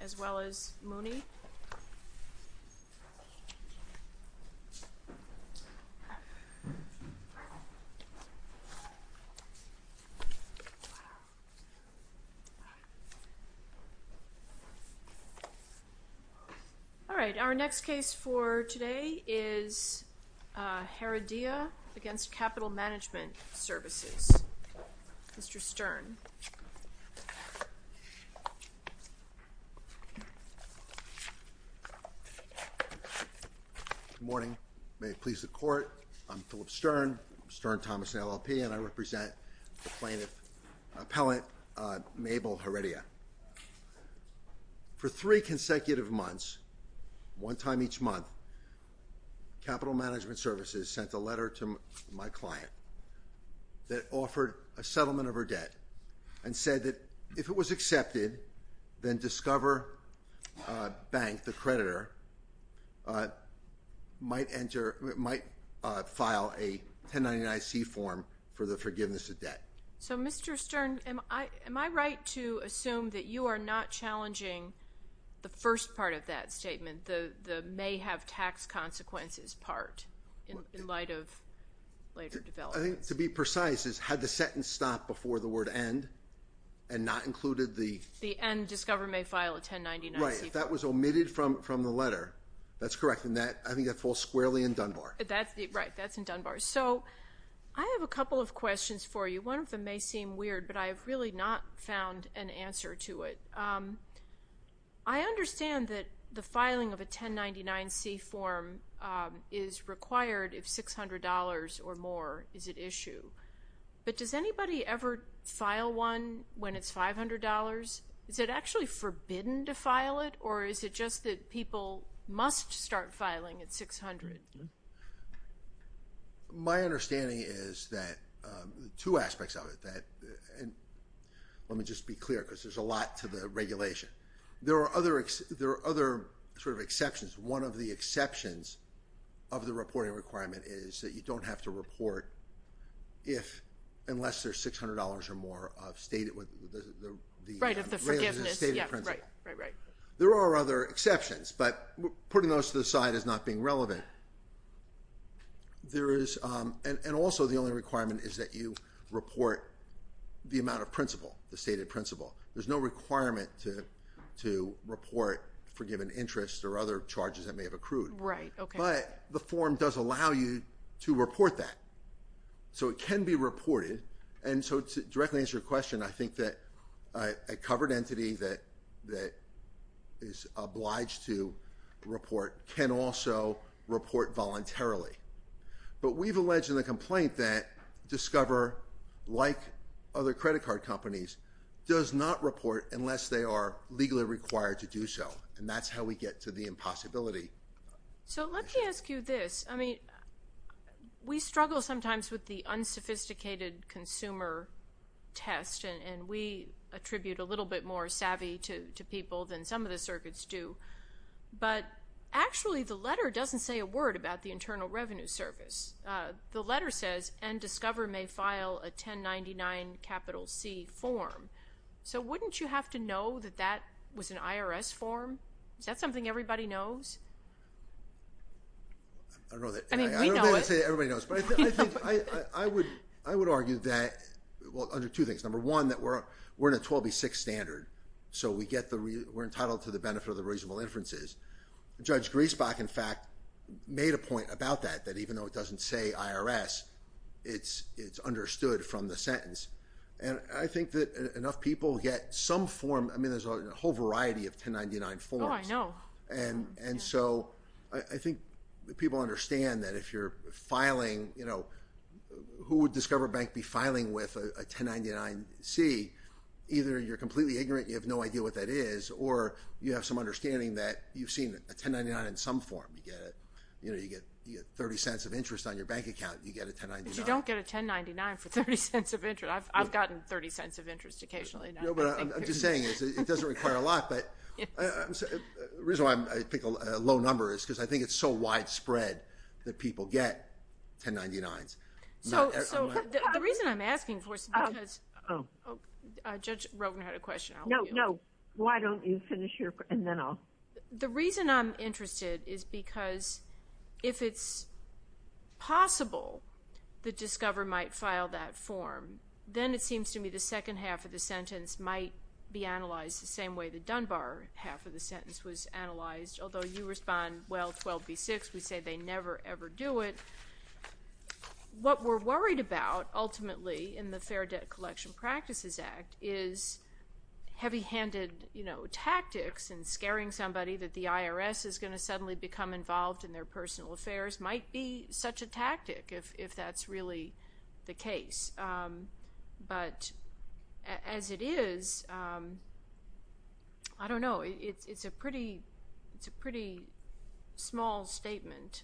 as well as Mooney. Alright, our next case for today is Heredia against Capital Management Services. Mr. Stern. Good morning. May it please the court, I'm Philip Stern, Stern Thomas LLP and I represent plaintiff, appellant Mabel Heredia. For three consecutive months, one time each month, Capital Management Services sent a letter to my client that offered a settlement of her debt and said that if it was accepted then Discover Bank, the creditor, might enter, might file a 1099-C form for the forgiveness of debt. So Mr. Stern, am I right to assume that you are not challenging the first part of that statement, the may have tax consequences part in light of later developments? I think to be precise, had the sentence stopped before the word end and not included the... The end Discover may file a 1099-C form. Right, if that was omitted from the letter, that's correct, and I think that falls squarely in Dunbar. Right, that's in Dunbar. So, I have a couple of questions for you. One of them may seem weird, but I've really not found an answer to it. I understand that the filing of a 1099-C form is required if $600 or more is at issue. But does anybody ever file one when it's $500? Is it actually forbidden to file it, or is it just that people must start filing at $600? My understanding is that two aspects of it. Let me just be clear, because there's a lot to the regulation. There are other exceptions. One of the exceptions of the reporting requirement is that you don't have to report unless there's $600 or more of stated... Right, of the forgiveness. There are other exceptions, but putting those to the side as not being relevant, there is... And also the only requirement is that you report the amount of principle, the stated principle. There's no requirement to report forgiven interest or other charges that may have accrued. But the form does allow you to report that. So it can be reported. And so to directly answer your question, I think that a covered entity that is obliged to report can also report voluntarily. But we've alleged in the complaint that Discover, like other credit card companies, does not report unless they are legally required to do so. And that's how we get to the impossibility. So let me ask you this. We struggle sometimes with the unsophisticated consumer test, and we attribute a little bit more savvy to people than some of the circuits do. But actually the letter doesn't say a word about the Internal Revenue Service. The letter says, and Discover may file a 1099-C form. So wouldn't you have to know that that was an IRS form? Is that something everybody knows? I don't know that everybody knows. I would argue that, well, under two things. Number one, that we're in a 12B6 standard. So we get the... We're entitled to the benefit of the reasonable inferences. Judge Griesbach, in fact, made a point about that, that even though it doesn't say IRS, it's understood from the sentence. And I think that enough people get some form. I mean, there's a whole variety of 1099 forms. Oh, I know. And so I think people understand that if you're filing, who would Discover Bank be filing with a 1099-C? Either you're completely ignorant, you have no idea what that is, or you have some understanding that you've seen a 1099 in some form. You get 30 cents of interest on your bank account, you get a 1099. But you don't get a 1099 for 30 cents of interest. I've gotten 30 cents of interest occasionally. No, but I'm just saying it doesn't require a lot. But the reason why I pick a low number is because I think it's so widespread that people get 1099s. So the reason I'm asking for is because... Judge Rogen had a question. No, no. Why don't you finish your... And then I'll... The reason I'm interested is because if it's possible that Discover might file that form, then it seems to me the second half of the sentence might be analyzed the same way the Dunbar half of the sentence was analyzed. Although you respond, well, 12B6, we say they never, ever do it. What we're worried about, ultimately, in the Fair Debt Collection Practices Act is heavy-handed tactics and scaring somebody that the IRS is gonna suddenly become involved in their personal affairs might be such a tactic if that's really the case. But as it is, I don't know. It's a pretty small statement.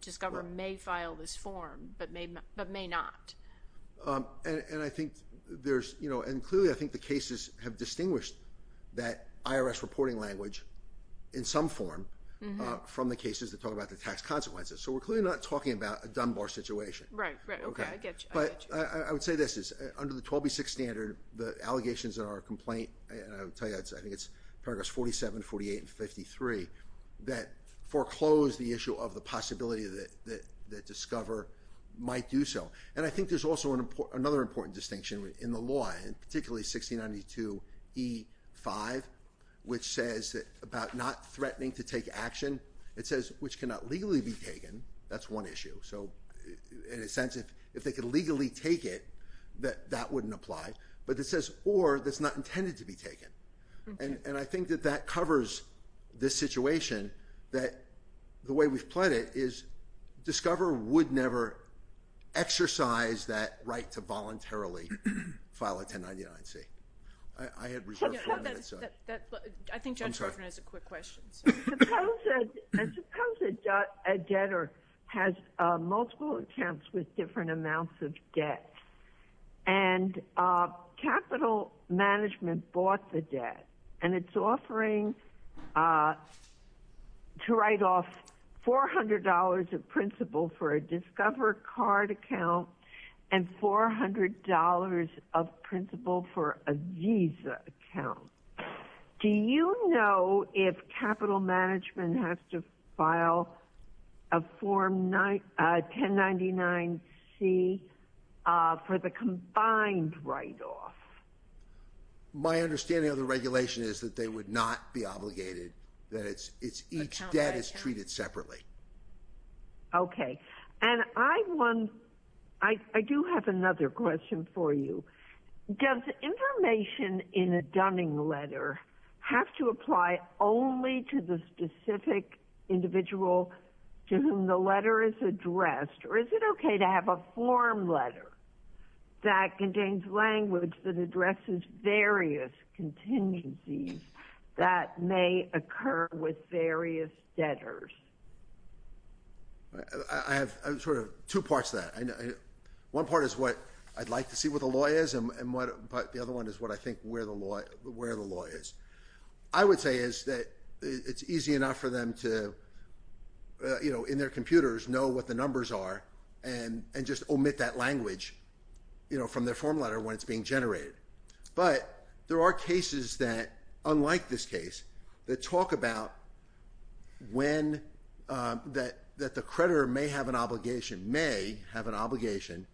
Discover may file this form, but may not. And I think there's... And clearly, I think the cases have distinguished that IRS reporting language in some form from the cases that talk about the tax consequences. So we're clearly not talking about a Dunbar situation. Right, right, okay, I get you. But I would say this, under the 12B6 standard, the allegations in our complaint, and I would tell you, I think it's paragraphs 47, 48, and 53, that foreclose the issue of the possibility that Discover might do so. And I think there's also another important distinction in the law, and particularly 1692E5, which says about not threatening to take action, it says, which cannot legally be taken. That's one issue. So in a sense, if they could legally take it, that that wouldn't apply. But it says, or, that's not intended to be taken. And I think that that covers this situation that the way we've pled it is Discover would never exercise that right to voluntarily file a 1099-C. I had reserved for a minute, so. I think Judge Hoffman has a quick question, so. Suppose a debtor has multiple accounts with different amounts of debt. And capital management bought the debt, and it's offering to write off $400 of principal for a Discover card account, and $400 of principal for a Visa account. Do you know if capital management has to file a 1099-C for the combined write-off? My understanding of the regulation is that they would not be obligated, that each debt is treated separately. Okay, and I do have another question for you. Does information in a Dunning letter have to apply only to the specific individual to whom the letter is addressed? Or is it okay to have a form letter that contains language that addresses various contingencies that may occur with various debtors? I have sort of two parts to that. One part is what I'd like to see what the law is, but the other one is what I think where the law is. I would say is that it's easy enough for them to, in their computers, know what the numbers are, and just omit that language from their form letter when it's being generated. But there are cases that, unlike this case, that talk about that the creditor may have an obligation, may have an obligation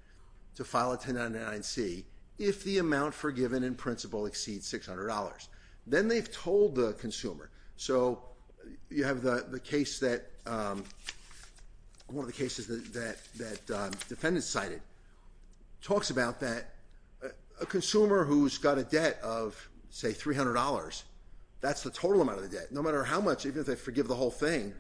to file a 1099-C if the amount forgiven in principle exceeds $600. Then they've told the consumer. So you have the case that, one of the cases that defendants cited, talks about that a consumer who's got a debt of, say, $300, that's the total amount of the debt. No matter how much, even if they forgive the whole thing,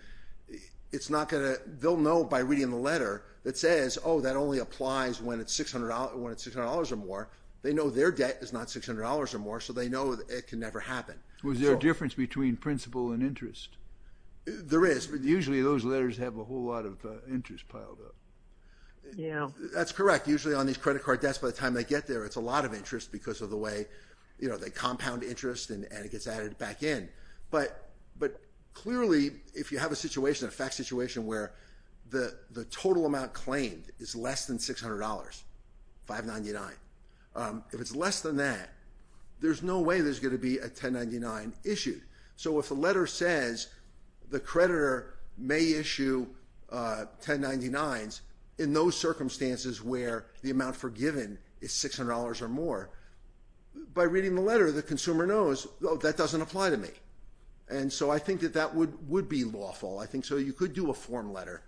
it's not gonna, they'll know by reading the letter that says, oh, that only applies when it's $600 or more. They know their debt is not $600 or more, so they know it can never happen. Was there a difference between principle and interest? There is. Usually those letters have a whole lot of interest piled up. Yeah. That's correct. Usually on these credit card debts, by the time they get there, it's a lot of interest because of the way they compound interest and it gets added back in. But clearly, if you have a situation, a fact situation where the total amount claimed is less than $600, 599, if it's less than that, there's no way there's gonna be a 1099 issued. So if the letter says the creditor may issue 1099s in those circumstances where the amount forgiven is $600 or more, by reading the letter, the consumer knows, oh, that doesn't apply to me. And so I think that that would be lawful. I think so, you could do a form letter.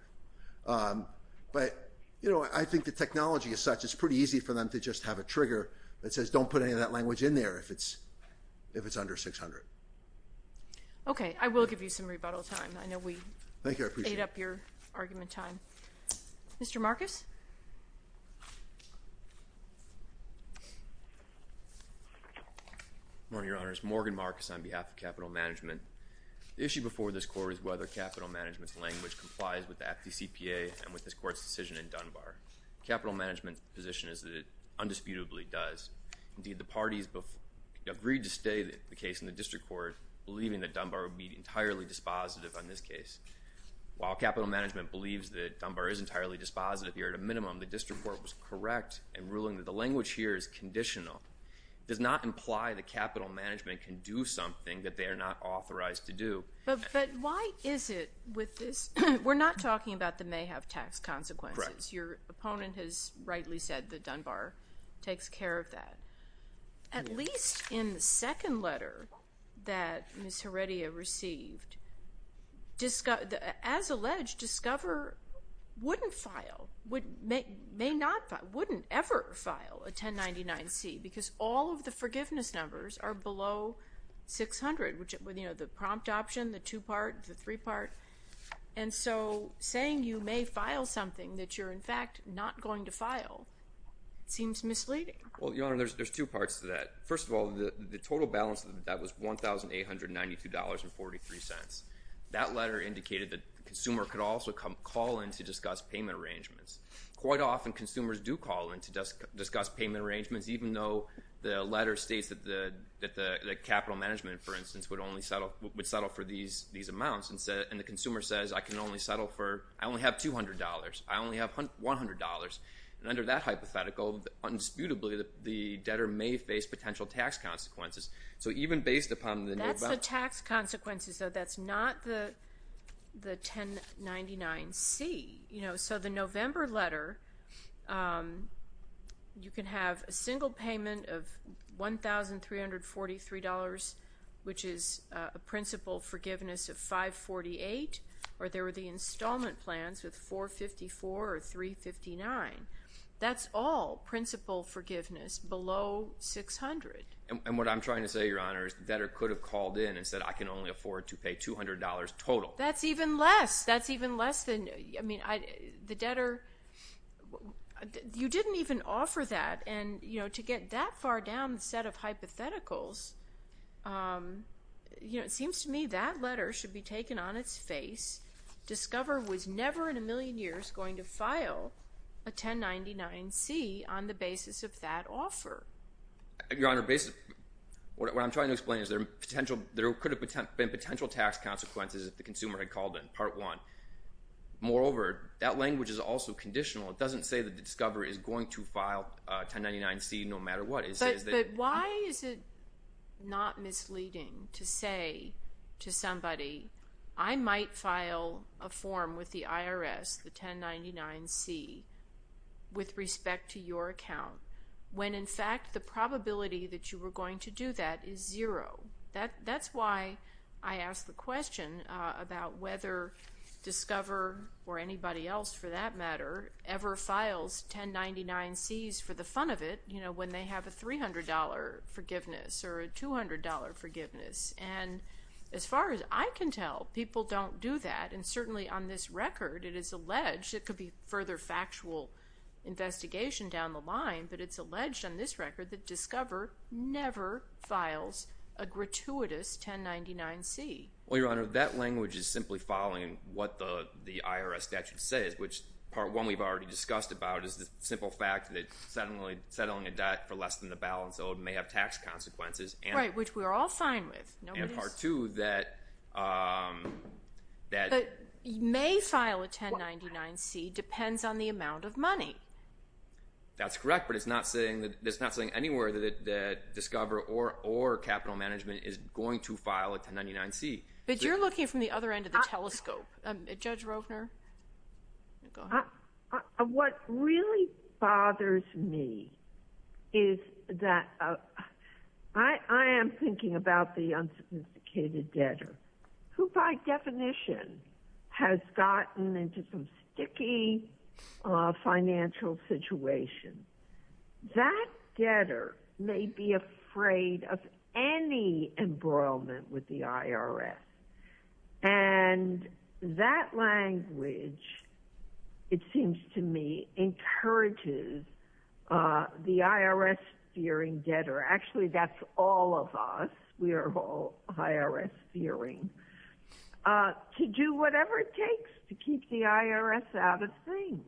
But I think the technology is such, it's pretty easy for them to just have a trigger that says don't put any of that language in there if it's under 600. Okay, I will give you some rebuttal time. I know we ate up your argument time. Mr. Marcus? Good morning, Your Honors. Morgan Marcus on behalf of Capital Management. The issue before this court is whether Capital Management's language complies with the FDCPA and with this court's decision in Dunbar. Capital Management's position is that it undisputably does. Indeed, the parties agreed to stay the case in the district court, believing that Dunbar would be entirely dispositive on this case. While Capital Management believes that Dunbar is entirely dispositive, here at a minimum, the district court was correct in ruling that the language here is conditional. It does not imply that Capital Management can do something that they are not authorized to do. But why is it with this? We're not talking about the may have tax consequences. Your opponent has rightly said that Dunbar takes care of that. At least in the second letter that Ms. Heredia received, as alleged, Discover wouldn't file, would, may not, wouldn't ever file a 1099-C because all of the forgiveness numbers are below 600, which, you know, the prompt option, the two part, the three part. And so saying you may file something that you're in fact not going to file seems misleading. Well, Your Honor, there's two parts to that. First of all, the total balance of that was $1,892.43. That letter indicated that the consumer could also call in to discuss payment arrangements. Quite often, consumers do call in to discuss payment arrangements, even though the letter states that the Capital Management, for instance, would settle for these amounts. And the consumer says, I can only settle for, I only have $200. I only have $100. And under that hypothetical, undisputably the debtor may face potential tax consequences. So even based upon the new balance. That's the tax consequences, though. That's not the 1099C, you know. So the November letter, you can have a single payment of $1,343, which is a principal forgiveness of 548, or there were the installment plans with 454 or 359. That's all principal forgiveness below 600. And what I'm trying to say, Your Honor, is the debtor could have called in and said, I can only afford to pay $200 total. That's even less. That's even less than, I mean, the debtor, you didn't even offer that. And to get that far down the set of hypotheticals, you know, it seems to me that letter should be taken on its face. Discover was never in a million years going to file a 1099C on the basis of that offer. Your Honor, what I'm trying to explain is there could have been potential tax consequences if the consumer had called in, part one. Moreover, that language is also conditional. It doesn't say that the discoverer is going to file a 1099C no matter what. It says that- But why is it not misleading to say to somebody, I might file a form with the IRS, the 1099C, with respect to your account, when in fact the probability that you were going to do that is zero? That's why I ask the question about whether Discover, or anybody else for that matter, ever files 1099Cs for the fun of it, you know, when they have a $300 forgiveness or a $200 forgiveness. And as far as I can tell, people don't do that. And certainly on this record, it is alleged, it could be further factual investigation down the line, but it's alleged on this record that Discover never files a gratuitous 1099C. Well, Your Honor, that language is simply following what the IRS statute says, which part one, we've already discussed about, is the simple fact that settling a debt for less than the balance owed may have tax consequences. Right, which we're all fine with. Nobody's- And part two, that- That you may file a 1099C depends on the amount of money. That's correct, but it's not saying that Discover or Capital Management is going to file a 1099C. But you're looking from the other end of the telescope. Judge Rovner, go ahead. What really bothers me is that, I am thinking about the unsophisticated debtor, who by definition has gotten into some sticky financial situations. That debtor may be afraid of any embroilment with the IRS. And that language, it seems to me, encourages the IRS-fearing debtor, actually that's all of us, we are all IRS-fearing, to do whatever it takes to keep the IRS out of things.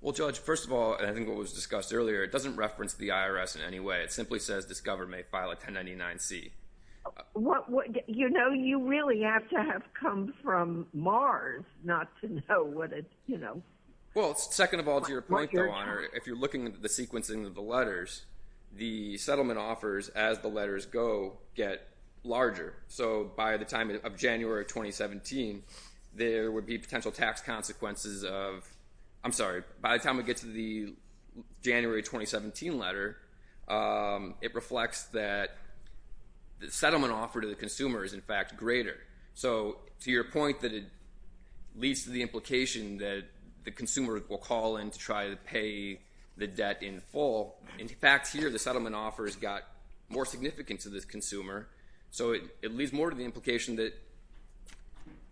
Well, Judge, first of all, and I think what was discussed earlier, it doesn't reference the IRS in any way. It simply says Discover may file a 1099C. You know, you really have to have come from Mars not to know what it, you know. Well, second of all, to your point, Your Honor, if you're looking at the sequencing of the letters, the settlement offers as the letters go get larger. So by the time of January of 2017, there would be potential tax consequences of, I'm sorry, by the time we get to the January 2017 letter, it reflects that the settlement offer to the consumer is in fact greater. So to your point that it leads to the implication that the consumer will call in to try to pay the debt in full, in fact here the settlement offer has got more significance to this consumer. So it leads more to the implication that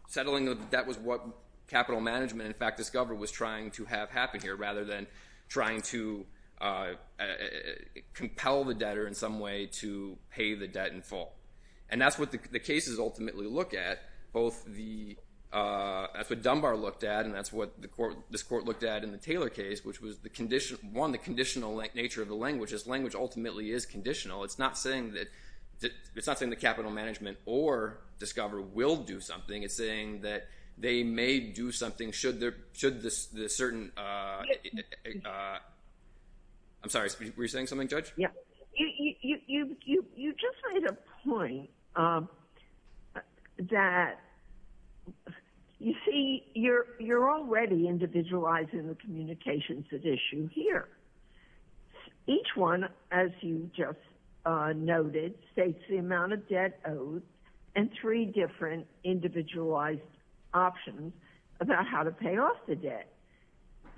settling of the debt was what capital management and in fact Discover was trying to have happen here rather than trying to compel the debtor in some way to pay the debt in full. And that's what the cases ultimately look at. Both the, that's what Dunbar looked at and that's what this court looked at in the Taylor case, which was the condition, one, the conditional nature of the language. This language ultimately is conditional. It's not saying that, it's not saying that capital management or Discover will do something. It's saying that they may do something should the certain, I'm sorry, were you saying something, Judge? Yeah, you just made a point that you see you're already individualizing the communications at issue here. Each one, as you just noted, states the amount of debt owed and three different individualized options about how to pay off the debt.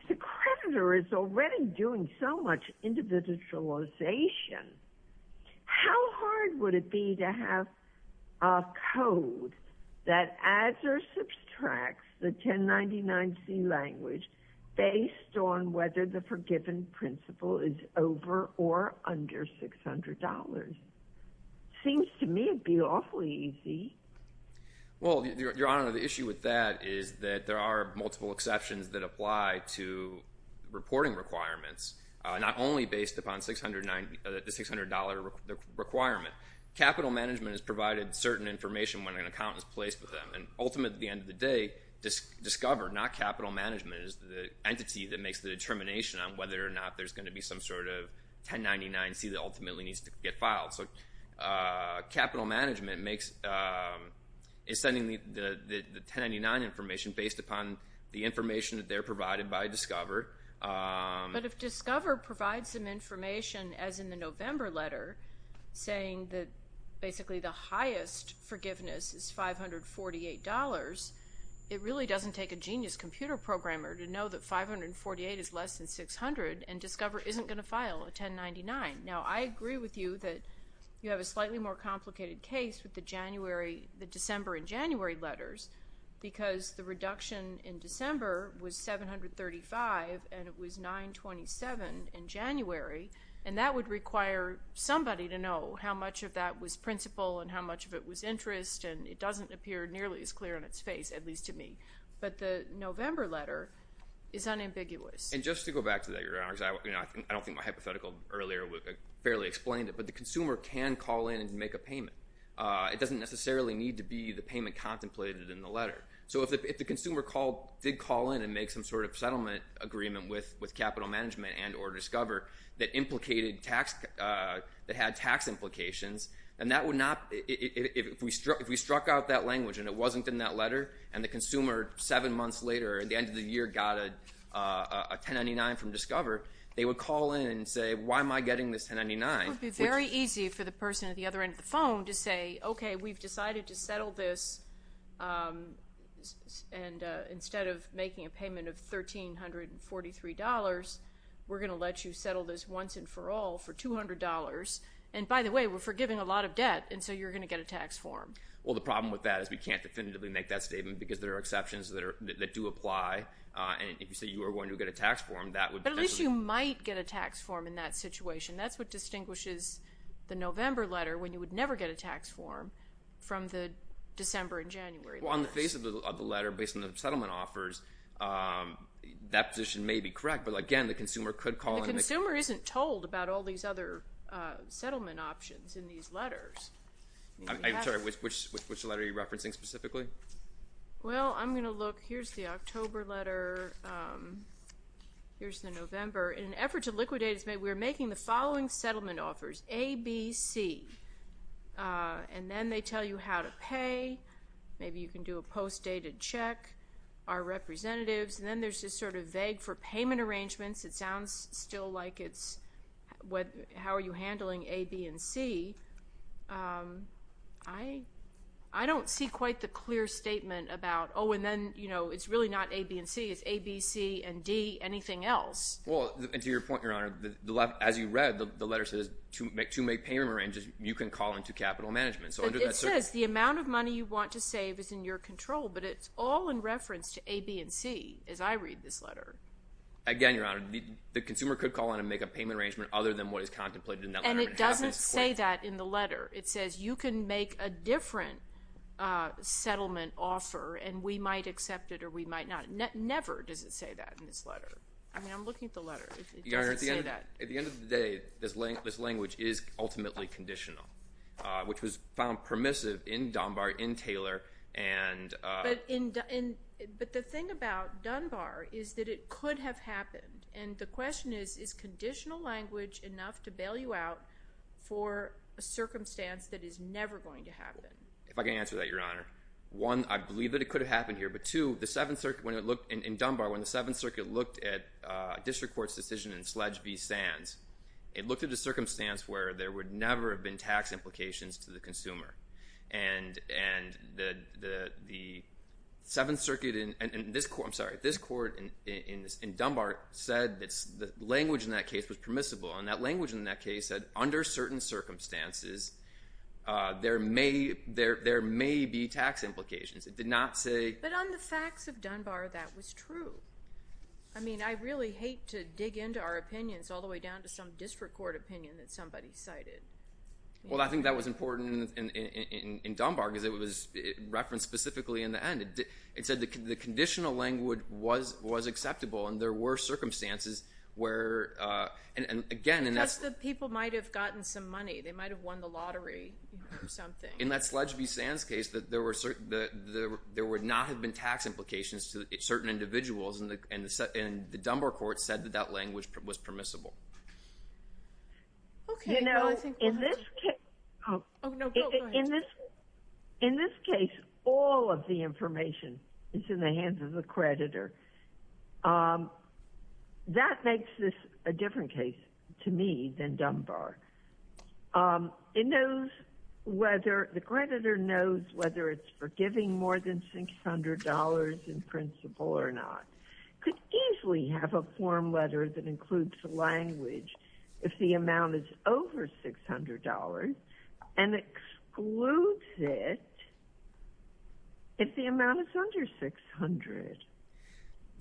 The creditor is already doing so much individualization. How hard would it be to have a code that adds or subtracts the 1099C language based on whether the forgiven principle is over or under $600? Seems to me it'd be awfully easy. Well, Your Honor, the issue with that is that there are multiple exceptions that apply to reporting requirements, not only based upon the $600 requirement. Capital management has provided certain information when an accountant is placed with them and ultimately at the end of the day, Discover, not capital management, is the entity that makes the determination on whether or not there's gonna be some sort of 1099C that ultimately needs to get filed. So capital management is sending the 1099 information based upon the information that they're provided by Discover. But if Discover provides some information as in the November letter, saying that basically the highest forgiveness is $548, it really doesn't take a genius computer programmer to know that 548 is less than 600 and Discover isn't gonna file a 1099. Now, I agree with you that you have a slightly more complicated case with the December and January letters because the reduction in December was 735 and it was 927 in January and that would require somebody to know how much of that was principle and how much of it was interest and it doesn't appear nearly as clear on its face, at least to me. But the November letter is unambiguous. And just to go back to that, Your Honor, I don't think my hypothetical earlier would have fairly explained it, but the consumer can call in and make a payment. It doesn't necessarily need to be the payment contemplated in the letter. So if the consumer did call in and make some sort of settlement agreement with capital management and or Discover that had tax implications, and that would not, if we struck out that language and it wasn't in that letter and the consumer seven months later at the end of the year got a 1099 from Discover, they would call in and say, why am I getting this 1099? It would be very easy for the person at the other end of the phone to say, okay, we've decided to settle this and instead of making a payment of $1,343, we're gonna let you settle this once and for all for $200. And by the way, we're forgiving a lot of debt and so you're gonna get a tax form. Well, the problem with that is we can't definitively make that statement because there are exceptions that do apply. And if you say you are going to get a tax form, that would potentially- But at least you might get a tax form in that situation. That's what distinguishes the November letter when you would never get a tax form from the December and January letters. Well, on the face of the letter based on the settlement offers, that position may be correct, but again, the consumer could call in- The consumer isn't told about all these other settlement options in these letters. Sorry, which letter are you referencing specifically? Well, I'm gonna look. Here's the October letter. Here's the November. In an effort to liquidate, we're making the following settlement offers, A, B, C. And then they tell you how to pay. Maybe you can do a post-dated check, our representatives. And then there's this sort of vague for payment arrangements. It sounds still like it's how are you handling A, B, and C. I don't see quite the clear statement about, oh, and then it's really not A, B, and C. It's A, B, C, and D, anything else. Well, and to your point, Your Honor, as you read, the letter says to make payment arrangements, you can call into capital management. But it says the amount of money you want to save is in your control, but it's all in reference to A, B, and C as I read this letter. Again, Your Honor, the consumer could call in and make a payment arrangement other than what is contemplated in that letter. And it doesn't say that in the letter. It says you can make a different settlement offer and we might accept it or we might not. Never does it say that in this letter. I mean, I'm looking at the letter. It doesn't say that. Your Honor, at the end of the day, this language is ultimately conditional, which was found permissive in Dunbar, in Taylor, and... But the thing about Dunbar is that it could have happened. And the question is, is conditional language enough to bail you out for a circumstance that is never going to happen? If I can answer that, Your Honor. One, I believe that it could have happened here. But two, in Dunbar, when the Seventh Circuit looked at a district court's decision in Sledge v. Sands, it looked at a circumstance where there would never have been tax implications to the consumer. And the Seventh Circuit, I'm sorry, this court in Dunbar said that the language in that case was permissible. And that language in that case said, under certain circumstances, there may be tax implications. It did not say... But on the facts of Dunbar, that was true. I mean, I really hate to dig into our opinions all the way down to some district court opinion that somebody cited. Well, I think that was important in Dunbar because it was referenced specifically in the end. It said the conditional language was acceptable and there were circumstances where... Again, and that's... Just that people might have gotten some money. They might have won the lottery or something. In that Sledge v. Sands case, that there would not have been tax implications to certain individuals, and the Dunbar court said that that language was permissible. You know, in this case... Oh, no, go ahead. In this case, all of the information is in the hands of the creditor. That makes this a different case to me than Dunbar. It knows whether the creditor knows whether it's forgiving more than $600 in principle or not. Could easily have a form letter that includes the language if the amount is over $600, and excludes it if the amount is under 600.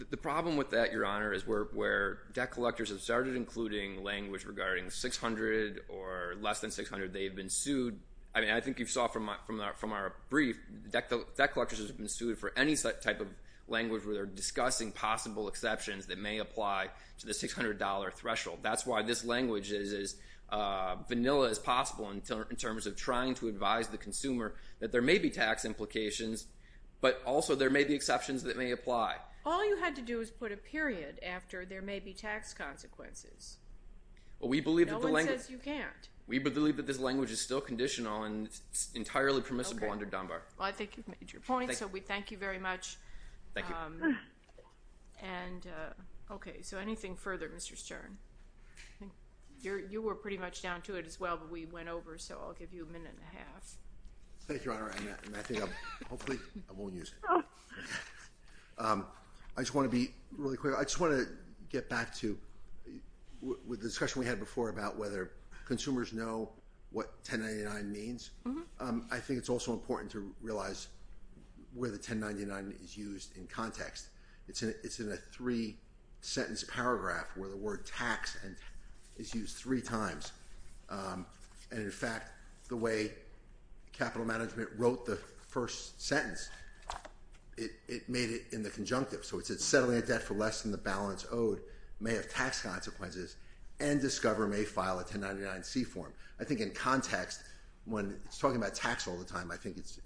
The problem with that, Your Honor, is where debt collectors have started including language regarding 600 or less than 600. They've been sued. I mean, I think you saw from our brief, debt collectors have been sued for any type of language where they're discussing possible exceptions that may apply to the $600 threshold. That's why this language is as vanilla as possible in terms of trying to advise the consumer that there may be tax implications, but also there may be exceptions that may apply. All you had to do is put a period after there may be tax consequences. No one says you can't. We believe that this language is still conditional and entirely permissible under Dunbar. Well, I think you've made your point, so we thank you very much. Thank you. Okay, so anything further, Mr. Stern? You were pretty much down to it as well, but we went over, so I'll give you a minute and a half. Thank you, Your Honor, and I think I'm, hopefully I won't use it. I just want to be really clear. I just want to get back to the discussion we had before about whether consumers know what 1099 means. I think it's also important to realize where the 1099 is used in context. It's in a three-sentence paragraph where the word tax is used three times, and in fact, the way capital management wrote the first sentence, it made it in the conjunctive. So it said, settling a debt for less than the balance owed may have tax consequences, and Discover may file a 1099-C form. I think in context, when it's talking about tax all the time, I think that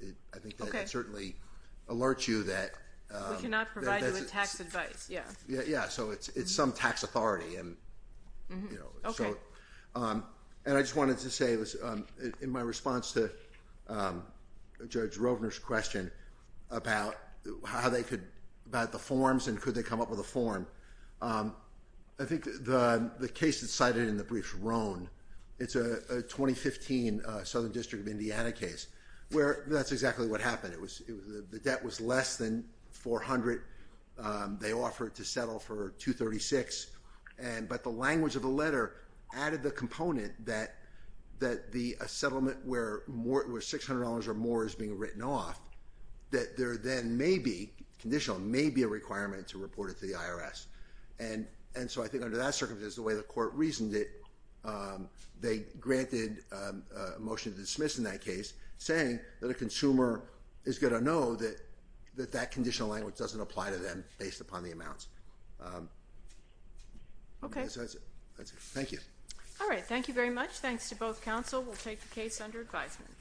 it certainly alerts you that. We cannot provide you with tax advice, yeah. Yeah, so it's some tax authority, and, you know, so. And I just wanted to say, in my response to Judge Rovner's question about how they could, about the forms, and could they come up with a form, I think the case that's cited in the brief, Roan, it's a 2015 Southern District of Indiana case where that's exactly what happened. The debt was less than 400. They offered to settle for 236, but the language of the letter added the component that a settlement where $600 or more is being written off, that there then may be, conditional, may be a requirement to report it to the IRS. And so I think under that circumstance, the way the court reasoned it, they granted a motion to dismiss in that case, saying that a consumer is gonna know that that conditional language doesn't apply to them based upon the amounts. Okay. That's it, thank you. All right, thank you very much. Thanks to both counsel. We'll take the case under advisement.